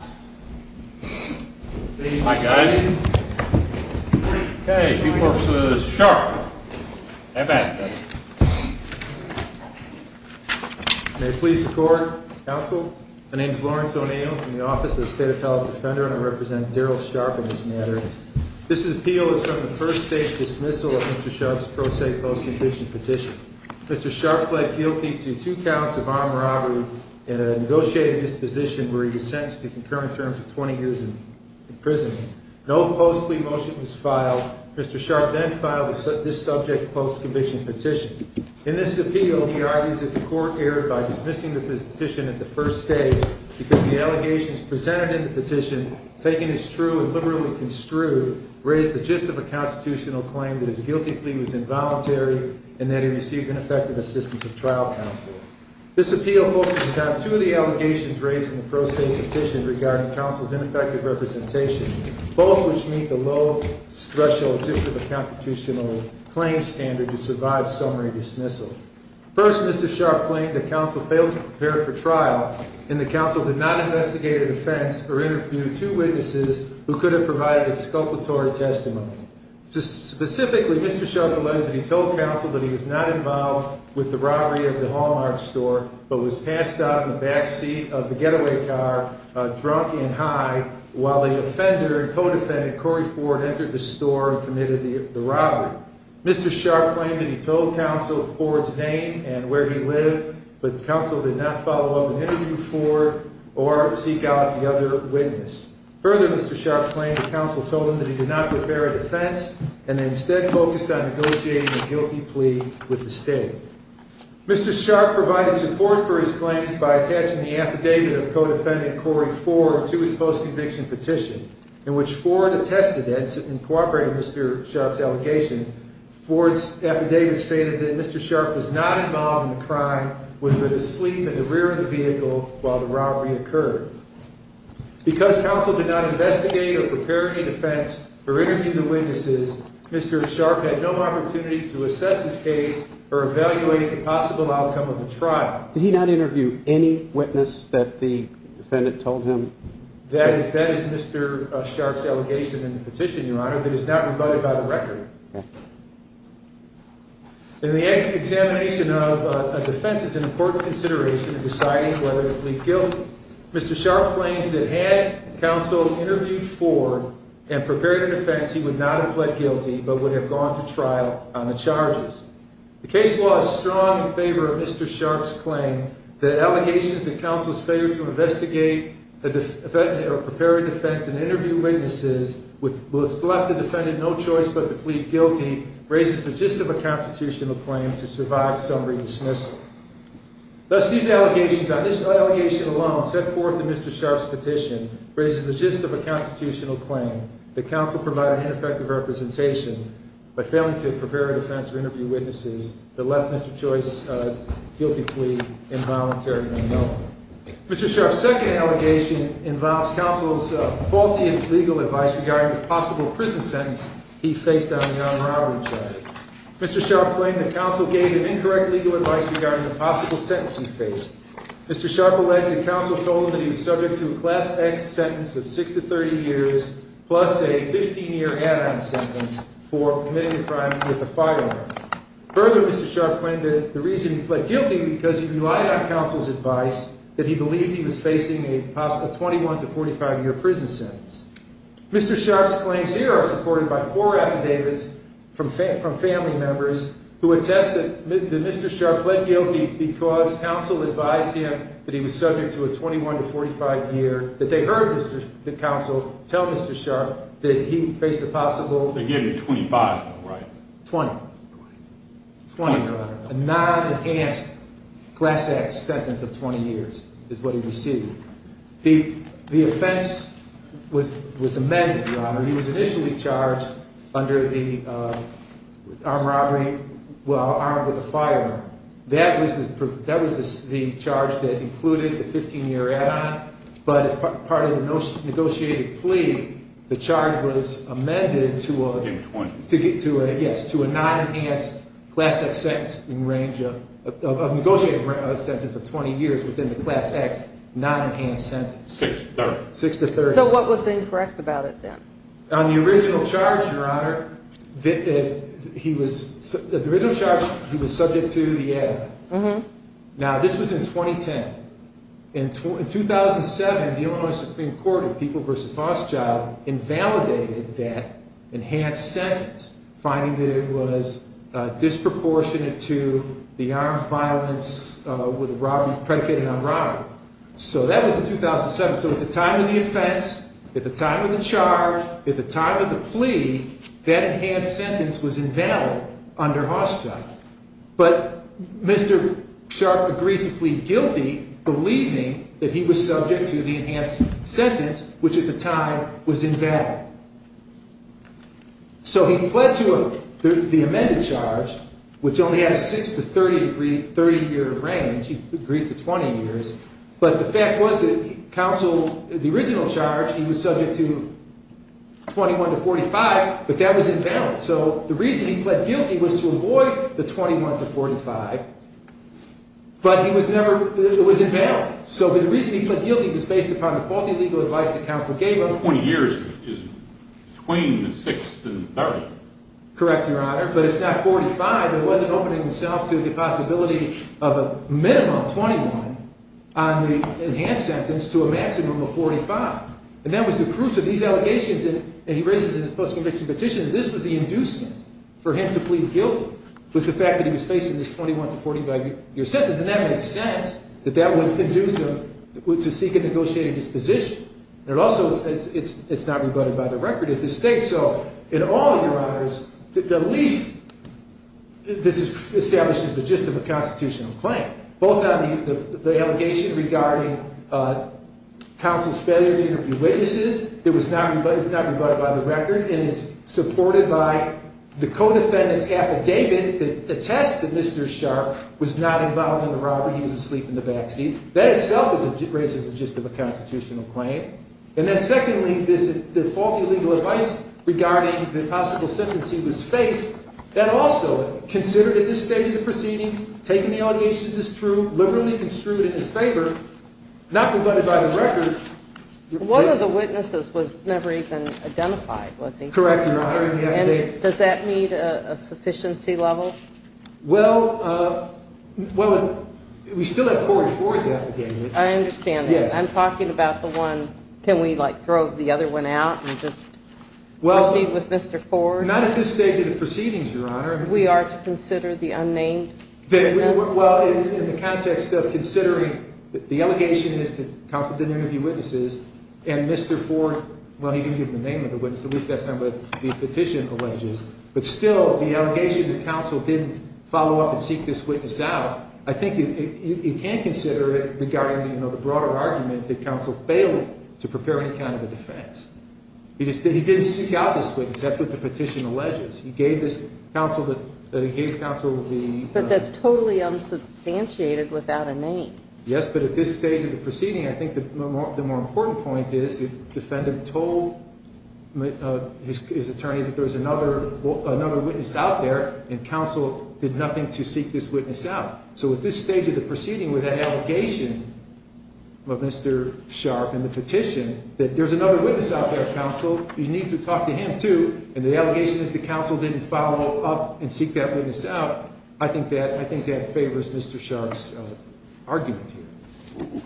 May it please the Court, Counsel, my name is Lawrence O'Neill from the Office of the State Appellate Defender and I represent Daryl Sharp in this matter. This appeal is from the first stage dismissal of Mr. Sharp's pro se post-condition petition. Mr. Sharp pled guilty to two counts of armed robbery and a negotiated disposition where he was sentenced to concurrent terms of 20 years in prison. No post plea motion was filed. Mr. Sharp then filed this subject post-condition petition. In this appeal, he argues that the Court erred by dismissing the petition at the first stage because the allegations presented in the petition, taken as true and liberally construed, raised the gist of a constitutional claim that his guilty plea was involuntary and that he received ineffective assistance of trial counsel. This appeal focuses on two of the allegations raised in the pro se petition regarding counsel's ineffective representation, both which meet the low-threshold gist of a constitutional claim standard to survive summary dismissal. First, Mr. Sharp claimed that counsel failed to prepare for trial and that counsel did not investigate an offense or interview two witnesses who could have provided exculpatory testimony. Specifically, Mr. Sharp alleged that he told counsel that he was not involved with the robbery at the Hallmark store, but was passed out in the back seat of the getaway car, drunk and high, while the offender and co-defendant, Corey Ford, entered the store and committed the robbery. Mr. Sharp claimed that he told counsel Ford's name and where he lived, but counsel did not follow up an interview with Ford or seek out the other witness. Further, Mr. Sharp claimed that counsel told him that he did not prepare a defense and instead focused on negotiating a guilty plea with the state. Mr. Sharp provided support for his claims by attaching the affidavit of co-defendant Corey Ford to his post-conviction petition, in which Ford attested that, in cooperating with Mr. Sharp's allegations, Ford's affidavit stated that Mr. Sharp was not involved in the crime, would have been asleep in the rear of the vehicle while the robbery occurred. Because counsel did not investigate or prepare any defense or interview the witnesses, Mr. Sharp had no opportunity to assess his case or evaluate the possible outcome of the trial. Did he not interview any witness that the defendant told him? That is Mr. Sharp's allegation in the petition, Your Honor, that is not rebutted by the record. In the examination of a defense, it's an important consideration in deciding whether to plead guilty. Mr. Sharp claims that had counsel interviewed Ford and prepared a defense, he would not have pled guilty but would have gone to trial on the charges. The case law is strong in favor of Mr. Sharp's claim that allegations that counsel's failure to investigate or prepare a defense and interview witnesses would have left the defendant no choice but to plead guilty raises the gist of a constitutional claim to survive summary dismissal. Thus, these allegations, on this allegation alone, set forth in Mr. Sharp's petition, raises the gist of a constitutional claim that counsel provided ineffective representation by failing to prepare a defense or interview witnesses that left Mr. Joyce guilty plea involuntary or no. Mr. Sharp's second allegation involves counsel's faulty legal advice regarding the possible prison sentence he faced on the armed robbery charge. Mr. Sharp claimed that counsel gave him incorrect legal advice regarding the possible sentence he faced. Mr. Sharp alleges that counsel told him that he was subject to a Class X sentence of 6 to 30 years plus a 15-year add-on sentence for committing a crime with a firearm. Further, Mr. Sharp claimed that the reason he pled guilty was because he relied on counsel's advice that he believed he was facing a 21 to 45-year prison sentence. Mr. Sharp's claims here are supported by four affidavits from family members who attest that Mr. Sharp pled guilty because counsel advised him that he was subject to a 21 to 45 year, that they heard the counsel tell Mr. Sharp that he faced a possible... They gave him 25, right? 20. 20. 20, Your Honor. A non-enhanced Class X sentence of 20 years is what he received. The offense was amended, Your Honor. He was initially charged under the armed robbery, well, armed with a firearm. That was the charge that included the 15-year add-on, but as part of the negotiated plea, the charge was amended to a... In 20. Six to 30. Six to 30. So what was incorrect about it then? On the original charge, Your Honor, he was subject to the add-on. Now, this was in 2010. In 2007, the Illinois Supreme Court of People v. Hochschild invalidated that enhanced sentence, finding that it was disproportionate to the armed violence predicated on robbery. So that was in 2007. So at the time of the offense, at the time of the charge, at the time of the plea, that enhanced sentence was invalid under Hochschild. But Mr. Sharp agreed to plead guilty, believing that he was subject to the enhanced sentence, which at the time was invalid. So he pled to the amended charge, which only had a six to 30-year range. He agreed to 20 years. But the fact was that counsel, the original charge, he was subject to 21 to 45, but that was invalid. So the reason he pled guilty was to avoid the 21 to 45, but it was invalid. So the reason he pled guilty was based upon the faulty legal advice that counsel gave him. 20 years is between the six and 30. Correct, Your Honor. But it's not 45. It wasn't opening himself to the possibility of a minimum 21 on the enhanced sentence to a maximum of 45. And that was the proof to these allegations. And he raises in his post-conviction petition that this was the inducement for him to plead guilty, was the fact that he was facing this 21 to 45-year sentence. And that makes sense, that that would induce him to seek a negotiated disposition. And also, it's not rebutted by the record of the state. So in all, Your Honors, at least this establishes the gist of a constitutional claim, both on the allegation regarding counsel's failure to interpret the charge, it's not rebutted by the record, and it's supported by the co-defendant's affidavit that attests that Mr. Sharp was not involved in the robbery. He was asleep in the backseat. That itself raises the gist of a constitutional claim. And then secondly, the faulty legal advice regarding the possible sentence he was faced, that also, considered at this stage of the proceeding, taking the allegations as true, liberally construed in his favor, not rebutted by the record. One of the witnesses was never even identified, was he? Correct, Your Honor. And does that meet a sufficiency level? Well, we still have Corey Ford's affidavit. I understand that. I'm talking about the one, can we like throw the other one out and just proceed with Mr. Ford? Not at this stage of the proceedings, Your Honor. We are to consider the unnamed? Well, in the context of considering the allegation is that counsel didn't interview witnesses, and Mr. Ford, well, he didn't give him the name of the witness, at least that's not what the petition alleges, but still, the allegation that counsel didn't follow up and seek this witness out, I think you can consider it regarding the broader argument that counsel failed to prepare any kind of a defense. He didn't seek out this witness. That's what the petition alleges. But that's totally unsubstantiated without a name. Yes, but at this stage of the proceeding, I think the more important point is the defendant told his attorney that there was another witness out there, and counsel did nothing to seek this witness out. So at this stage of the proceeding with that allegation of Mr. Sharp and the petition that there's another witness out there, counsel, you need to talk to him, too, and the allegation is that counsel didn't follow up and seek that witness out, I think that favors Mr. Sharp's argument here.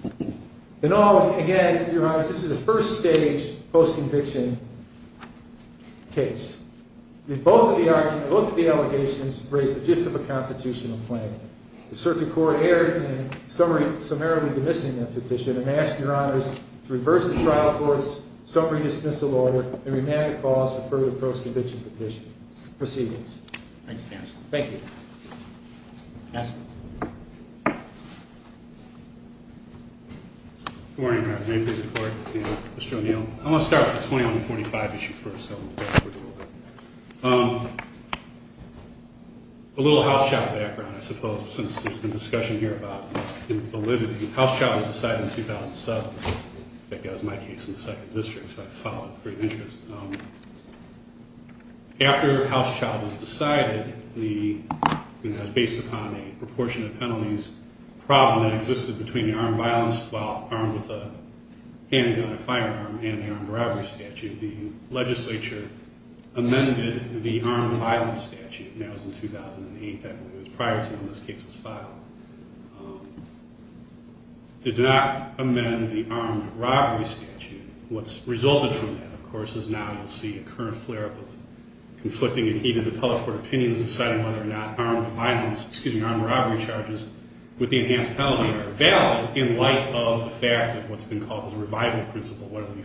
In all, again, Your Honor, this is a first-stage post-conviction case. In both of the arguments, both of the allegations raise the gist of a constitutional claim. If circuit court erred in summarily dismissing that petition, I'm going to ask Your Honors to reverse the trial court's summary dismissal order and remand the cause for further post-conviction proceedings. Thank you, counsel. Thank you. Counsel? Good morning, Your Honor. May it please the Court? Mr. O'Neill. I want to start with the 20-45 issue first, so I'll go forward a little bit. A little House child background, I suppose, since there's been discussion here about validity. The House child was decided in 2007. I think that was my case in the 2nd District, so I followed free of interest. After the House child was decided, it was based upon a proportionate penalties problem that existed between the armed violence, well, armed with a handgun, a firearm, and the armed robbery statute. The legislature amended the armed violence statute, and that was in 2008. That was prior to when this case was filed. It did not amend the armed robbery statute. What's resulted from that, of course, is now you'll see a current flare-up of conflicting and heated appellate court opinions deciding whether or not armed violence, excuse me, armed robbery charges with the enhanced penalty are valid in light of the fact of what's been called the revival principle, whether we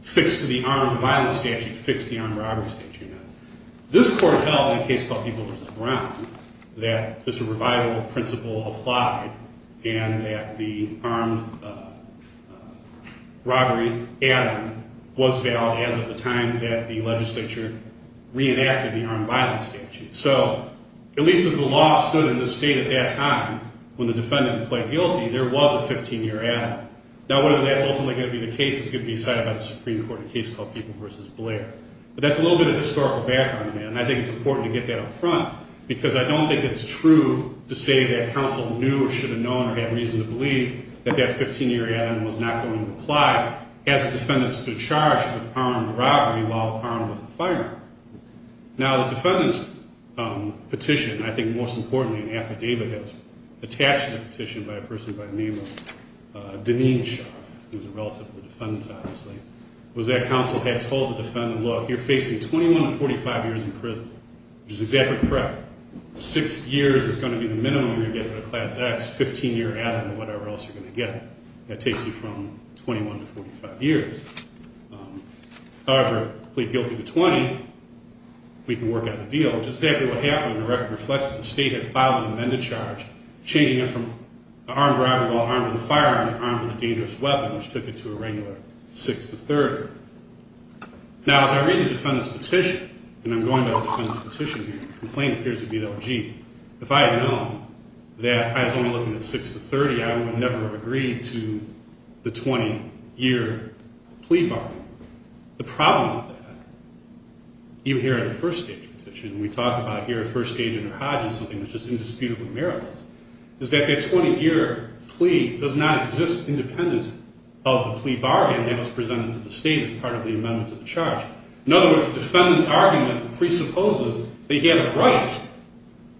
fix the armed violence statute, fix the armed robbery statute or not. This Court held in a case called People vs. Brown that this revival principle applied and that the armed robbery add-on was valid as of the time that the legislature reenacted the armed violence statute. So at least as the law stood in this state at that time when the defendant pled guilty, there was a 15-year add-on. Now whether that's ultimately going to be the case is going to be decided by the Supreme Court in a case called People vs. Blair. But that's a little bit of historical background, and I think it's important to get that up front because I don't think it's true to say that counsel knew or should have known or had reason to believe that that 15-year add-on was not going to apply as the defendant stood charged with armed robbery while armed with a firearm. Now the defendant's petition, I think most importantly in the affidavit that was attached to the petition by a person by the name of Daneen Shah, who's a relative of the defendant's obviously, was that counsel had told the defendant, look, you're facing 21 to 45 years in prison, which is exactly correct. Six years is going to be the minimum you're going to get for a Class X, 15-year add-on or whatever else you're going to get. That takes you from 21 to 45 years. However, plead guilty to 20, we can work out the deal, which is exactly what happened when the record reflects that the state had filed an amended charge changing it from armed robbery while armed with a firearm to armed with a dangerous weapon, which took it to a regular 6 to 30. Now as I read the defendant's petition, and I'm going by the defendant's petition here, the complaint appears to be that, well, gee, if I had known that I was only looking at 6 to 30, I would never have agreed to the 20-year plea bargain. The problem with that, even here at a first-agent petition, and we talk about here a first-agent or hodge is something that's just indisputable in Maryland, is that that 20-year plea does not exist independent of the plea bargain that was presented to the state as part of the amendment to the charge. In other words, the defendant's argument presupposes that he had a right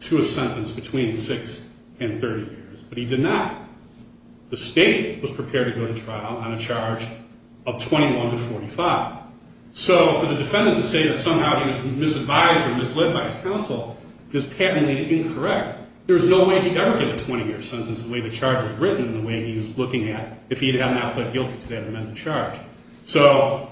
to a sentence between 6 and 30 years, but he did not. The state was prepared to go to trial on a charge of 21 to 45. So for the defendant to say that somehow he was misadvised or misled by his counsel is patently incorrect. There's no way he'd ever get a 20-year sentence the way the charge was written and the way he was looking at if he had not pled guilty to that amended charge. So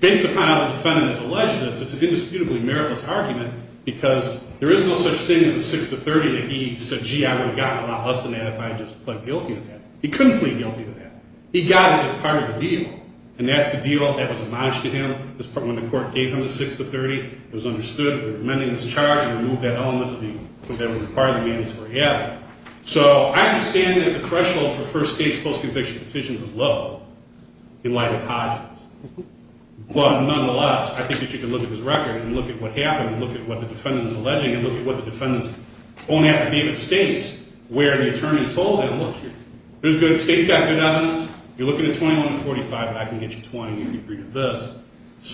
based upon how the defendant has alleged this, it's an indisputably meritless argument because there is no such thing as a 6 to 30 that he said, gee, I would have gotten a lot less than that if I had just pled guilty to that. He couldn't plead guilty to that. He got it as part of the deal, and that's the deal that was admonished to him when the court gave him the 6 to 30. It was understood that amending this charge would remove that element that would be part of the mandatory avenue. So I understand that the threshold for first-stage post-conviction petitions is low in light of Hodges. But nonetheless, I think that you can look at his record and look at what happened and look at what the defendant is alleging and look at what the defendant's own affidavit states where the attorney told him, look, the state's got good evidence. You're looking at 21 to 45, but I can get you 20 if you agree to this.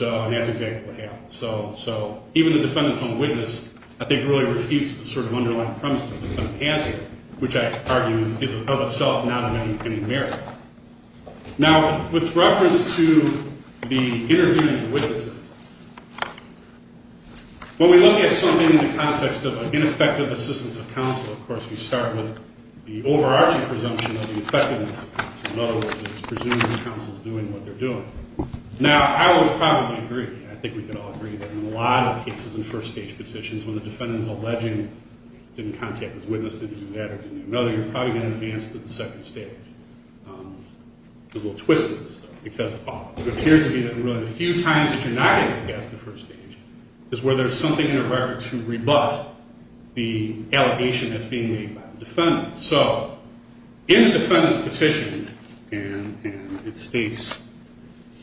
And that's exactly what happened. So even the defendant's own witness, I think, really refutes the sort of underlying premise that the defendant has here, which I argue is of itself not of any merit. Now, with reference to the intervening witnesses, when we look at something in the context of an ineffective assistance of counsel, of course, we start with the overarching presumption of the effectiveness of counsel. In other words, it's presuming the counsel's doing what they're doing. Now, I would probably agree. I think we could all agree that in a lot of cases in first-stage petitions, when the defendant's alleging didn't contact his witness, didn't do that, or didn't do another, you're probably going to advance to the second stage. There's a little twist to this, though, because it appears to me that really the few times that you're not going to advance to the first stage is where there's something in a record to rebut the allegation that's being made by the defendant. So in the defendant's petition, and it states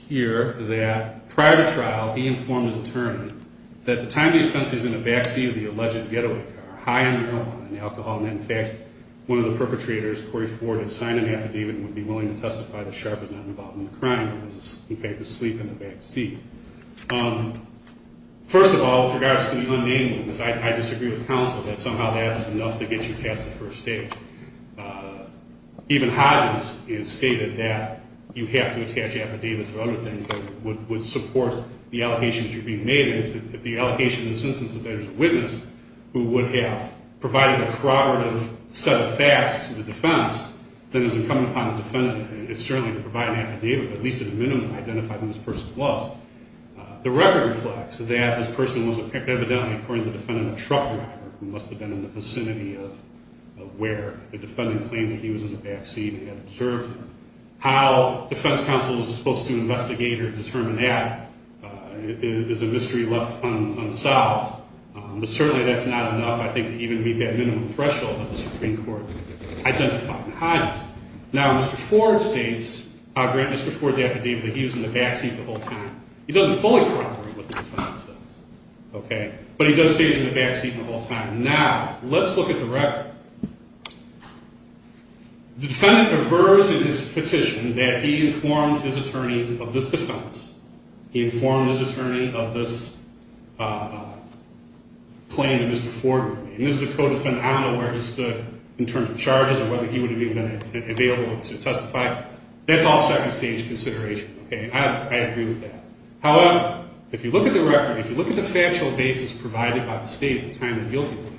here that prior to trial, he informed his attorney that the time the offense is in the backseat of the alleged getaway car, high on marijuana and alcohol, and in fact, one of the perpetrators, Corey Ford, had signed an affidavit and would be willing to testify that Sharp was not involved in the crime and was, in fact, asleep in the backseat. First of all, with regards to the unnamed ones, I disagree with counsel that somehow that's enough to get you past the first stage. Even Hodges has stated that you have to attach affidavits or other things that would support the allegations that you're being made, and if the allegation in this instance is that there's a witness who would have provided a corroborative set of facts to the defense, then it's incumbent upon the defendant certainly to provide an affidavit or at least at a minimum identify who this person was. The record reflects that this person was evidently, according to the defendant, a truck driver who must have been in the vicinity of where the defendant claimed that he was in the backseat and had observed him. How defense counsel is supposed to investigate or determine that is a mystery left unsolved, but certainly that's not enough, I think, to even meet that minimum threshold that the Supreme Court identified in Hodges. Now, Mr. Ford states, Mr. Ford's affidavit, that he was in the backseat the whole time. He doesn't fully corroborate what the defendant says, okay, but he does say he was in the backseat the whole time. Now, let's look at the record. The defendant averves in his petition that he informed his attorney of this defense. He informed his attorney of this claim that Mr. Ford made. And this is a co-defendant. I don't know where he stood in terms of charges or whether he would have even been available to testify. That's all second-stage consideration, okay. I agree with that. However, if you look at the record, if you look at the factual basis provided by the state at the time of the guilty plea,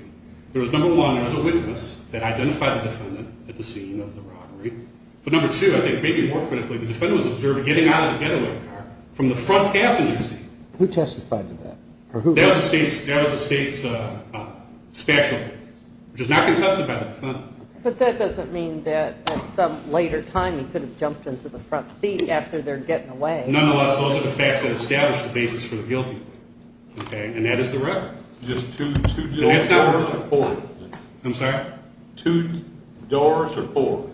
there was, number one, there was a witness that identified the defendant at the scene of the robbery, but, number two, I think maybe more critically, the defendant was observed getting out of the getaway car from the front passenger seat. Who testified to that? That was the state's factual basis, which is not contested by the defendant. But that doesn't mean that at some later time he could have jumped into the front seat after their getting away. Nonetheless, those are the facts that establish the basis for the guilty plea, okay, and that is the record. Just two doors or four? I'm sorry? Two doors or four?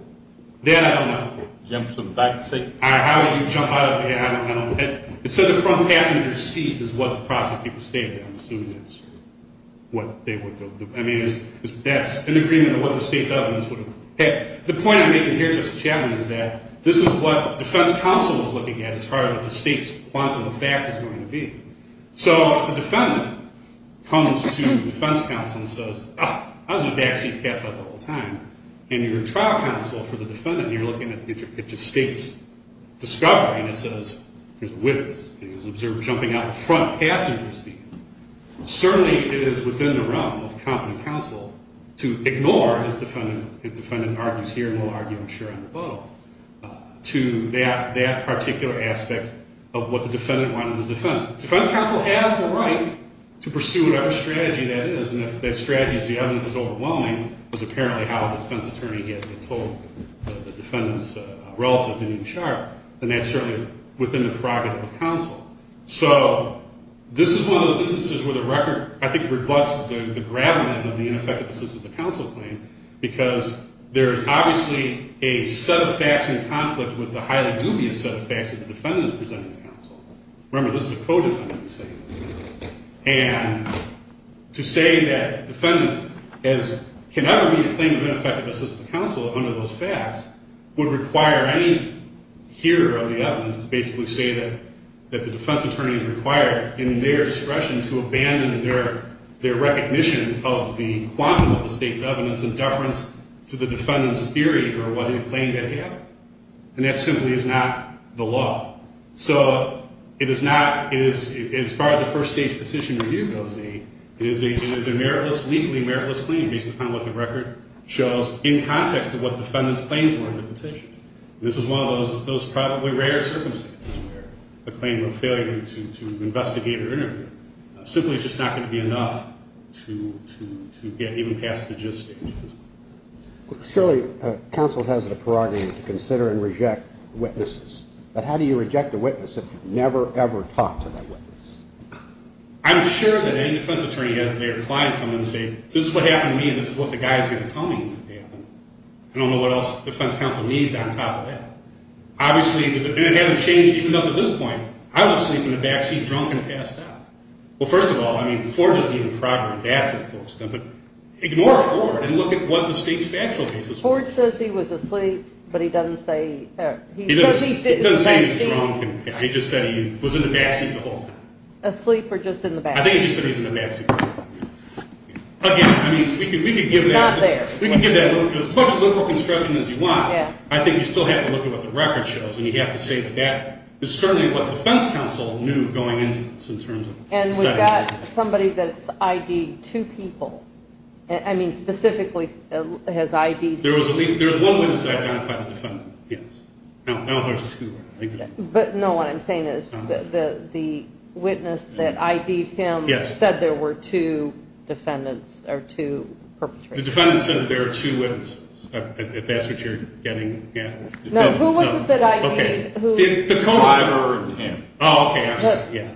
Then I don't know. Jumps in the back seat? I don't know. It said the front passenger seat is what the prosecutor stated. I'm assuming that's what they would have done. I mean, that's in agreement with what the state's evidence would have. The point I'm making here, Justice Chatelain, is that this is what defense counsel is looking at as far as the state's quantum of fact is going to be. So if a defendant comes to defense counsel and says, oh, I was in the back seat and passed out the whole time, and you're a trial counsel for the defendant, and you're looking at the interpitch of state's discovery, and it says, here's a witness, and he was observed jumping out of the front passenger seat, certainly it is within the realm of competent counsel to ignore, as the defendant argues here and we'll argue I'm sure on the boat, to that particular aspect of what the defendant wanted as a defense. Defense counsel has the right to pursue whatever strategy that is, and if that strategy is the evidence is overwhelming, which is apparently how the defense attorney had been told the defendant's relative didn't do sharp, then that's certainly within the prerogative of counsel. So this is one of those instances where the record, I think, reflects the gravamen of the ineffective assistance of counsel claim, because there is obviously a set of facts in conflict with the highly dubious set of facts that the defendant is presenting to counsel. Remember, this is a co-defendant. And to say that defendants can never make a claim of ineffective assistance to counsel under those facts would require any hearer of the evidence to basically say that the defense attorney is required in their discretion to abandon their recognition of the quantum of the state's evidence in deference to the defendant's theory or what he claimed to have, and that simply is not the law. So it is not, as far as a first stage petition review goes, it is a meritless, legally meritless claim based upon what the record shows in context of what the defendant's claims were in the petition. This is one of those probably rare circumstances where a claim of failure to investigate or interview simply is just not going to be enough to get even past the just stage. Surely counsel has the prerogative to consider and reject witnesses. But how do you reject a witness if you've never, ever talked to that witness? I'm sure that any defense attorney has their client come in and say, this is what happened to me and this is what the guy is going to tell me. I don't know what else the defense counsel needs on top of that. Obviously, and it hasn't changed even up to this point. I was asleep in the backseat drunk and passed out. Well, first of all, I mean, Ford doesn't even prior adapt to the folks. Ignore Ford and look at what the state's factual cases were. Ford says he was asleep, but he doesn't say he was. He just said he was in the backseat the whole time. Asleep or just in the backseat? I think he just said he was in the backseat. Again, I mean, we could give that. It's not there. We could give that as much liberal construction as you want. I think you still have to look at what the record shows, and you have to say that that is certainly what the defense counsel knew going into this in terms of. And we've got somebody that's ID'd two people. I mean, specifically has ID'd. There was at least one witness that identified the defendant. Yes. I don't know if there's two. But, no, what I'm saying is the witness that ID'd him said there were two defendants or two perpetrators. The defendant said there were two witnesses, if that's what you're getting. No, who was it that ID'd? The co-driver and him. Oh, okay. Yeah.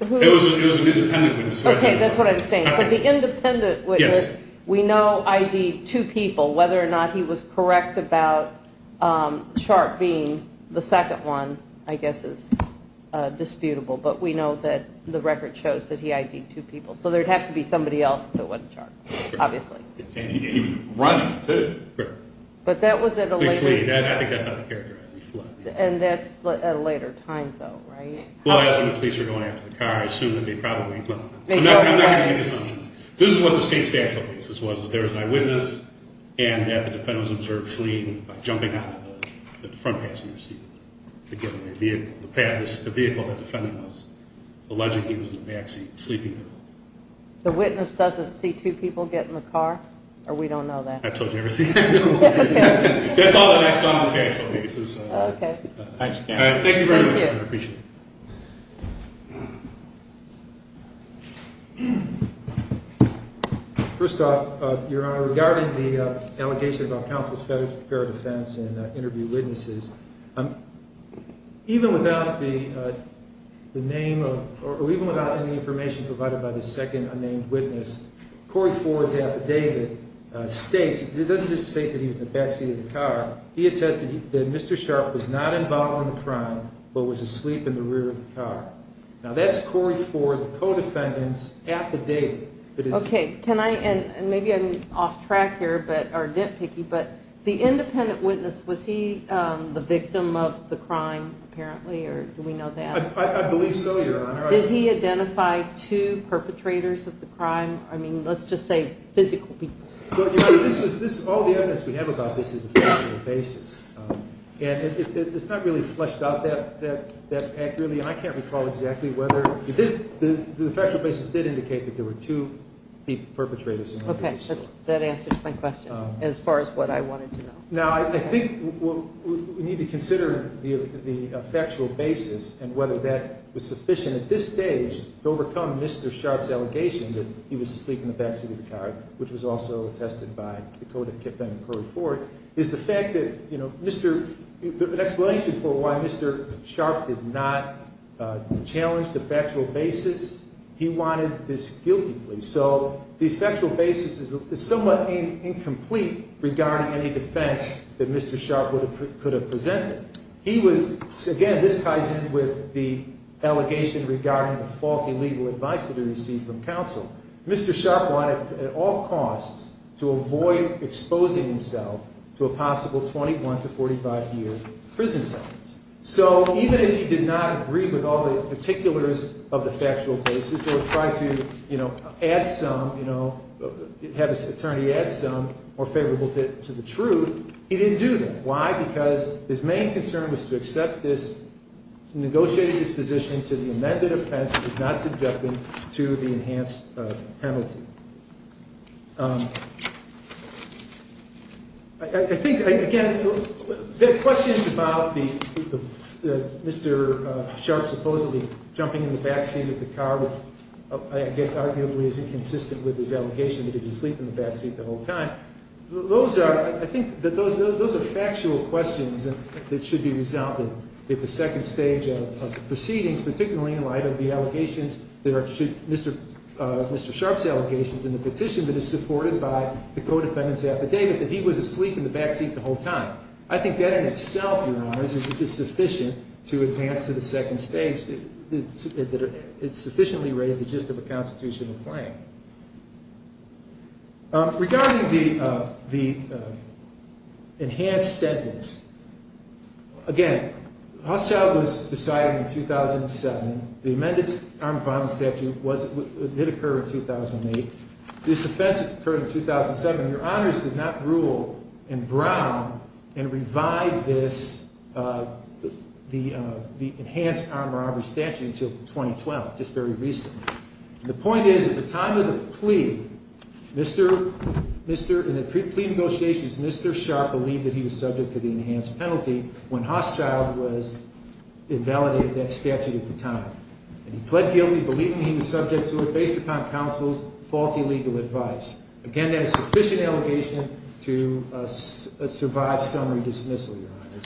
It was an independent witness. Okay, that's what I'm saying. It's like the independent witness, we know ID'd two people. Whether or not he was correct about Sharp being the second one, I guess, is disputable. But we know that the record shows that he ID'd two people. So there would have to be somebody else if it wasn't Sharp, obviously. And he was running, too. Correct. But that was at a later time. I think that's not characterized. And that's at a later time, though, right? Well, that's when the police are going after the car. I assume that they probably will. I'm not going to make assumptions. This is what the state's factual basis was, is there was an eyewitness and that the defendant was observed fleeing by jumping out of the front passenger seat to get in the vehicle. The vehicle the defendant was alleged he was in the backseat sleeping in. The witness doesn't see two people get in the car? Or we don't know that? I've told you everything I know. That's all that I saw on the factual basis. Okay. Thank you very much. Thank you. I appreciate it. First off, Your Honor, regarding the allegation about counsel's failure to prepare a defense and interview witnesses, even without the name or even without any information provided by the second unnamed witness, Corey Ford's affidavit states, it doesn't just state that he was in the backseat of the car, he attested that Mr. Sharp was not involved in the crime but was asleep in the rear of the car. Now, that's Corey Ford, the co-defendant's affidavit. Okay. Can I, and maybe I'm off track here or nitpicky, but the independent witness, was he the victim of the crime apparently or do we know that? I believe so, Your Honor. Did he identify two perpetrators of the crime? I mean, let's just say physical people. All the evidence we have about this is a factual basis. And it's not really fleshed out that accurately. And I can't recall exactly whether the factual basis did indicate that there were two perpetrators. Okay. That answers my question as far as what I wanted to know. Now, I think we need to consider the factual basis and whether that was sufficient at this stage to overcome Mr. Sharp's allegation that he was asleep in the backseat of the car, which was also attested by the co-defendant, Corey Ford, is the fact that, you know, an explanation for why Mr. Sharp did not challenge the factual basis, he wanted this guiltily. So the factual basis is somewhat incomplete regarding any defense that Mr. Sharp could have presented. He was, again, this ties in with the allegation regarding the faulty legal advice that he received from counsel. Mr. Sharp wanted at all costs to avoid exposing himself to a possible 21 to 45-year prison sentence. So even if he did not agree with all the particulars of the factual basis or tried to, you know, add some, you know, have his attorney add some more favorable to the truth, he didn't do that. Why? Because his main concern was to accept this negotiated disposition to the amended offense and not subject him to the enhanced penalty. I think, again, there are questions about Mr. Sharp supposedly jumping in the backseat of the car, which I guess arguably is inconsistent with his allegation that he was asleep in the backseat the whole time. Those are, I think, those are factual questions that should be resolved at the second stage of the proceedings, particularly in light of the allegations that are Mr. Sharp's allegations in the petition that is supported by the co-defendant's affidavit that he was asleep in the backseat the whole time. I think that in itself, Your Honors, is sufficient to advance to the second stage that it sufficiently raised the gist of a constitutional claim. Regarding the enhanced sentence, again, Hochschild was decided in 2007. The amended armed robbery statute did occur in 2008. This offense occurred in 2007. Your Honors did not rule in Brown and revive this, the enhanced armed robbery statute until 2012, just very recently. The point is, at the time of the plea, in the plea negotiations, Mr. Sharp believed that he was subject to the enhanced penalty when Hochschild invalidated that statute at the time. He pled guilty, believing he was subject to it based upon counsel's faulty legal advice. Again, that is sufficient allegation to survive summary dismissal, Your Honors.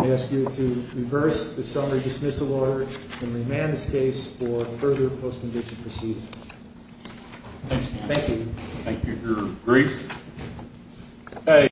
I ask you to reverse the summary dismissal order and remand this case for further post-condition proceedings. Thank you. Thank you, Your Grace.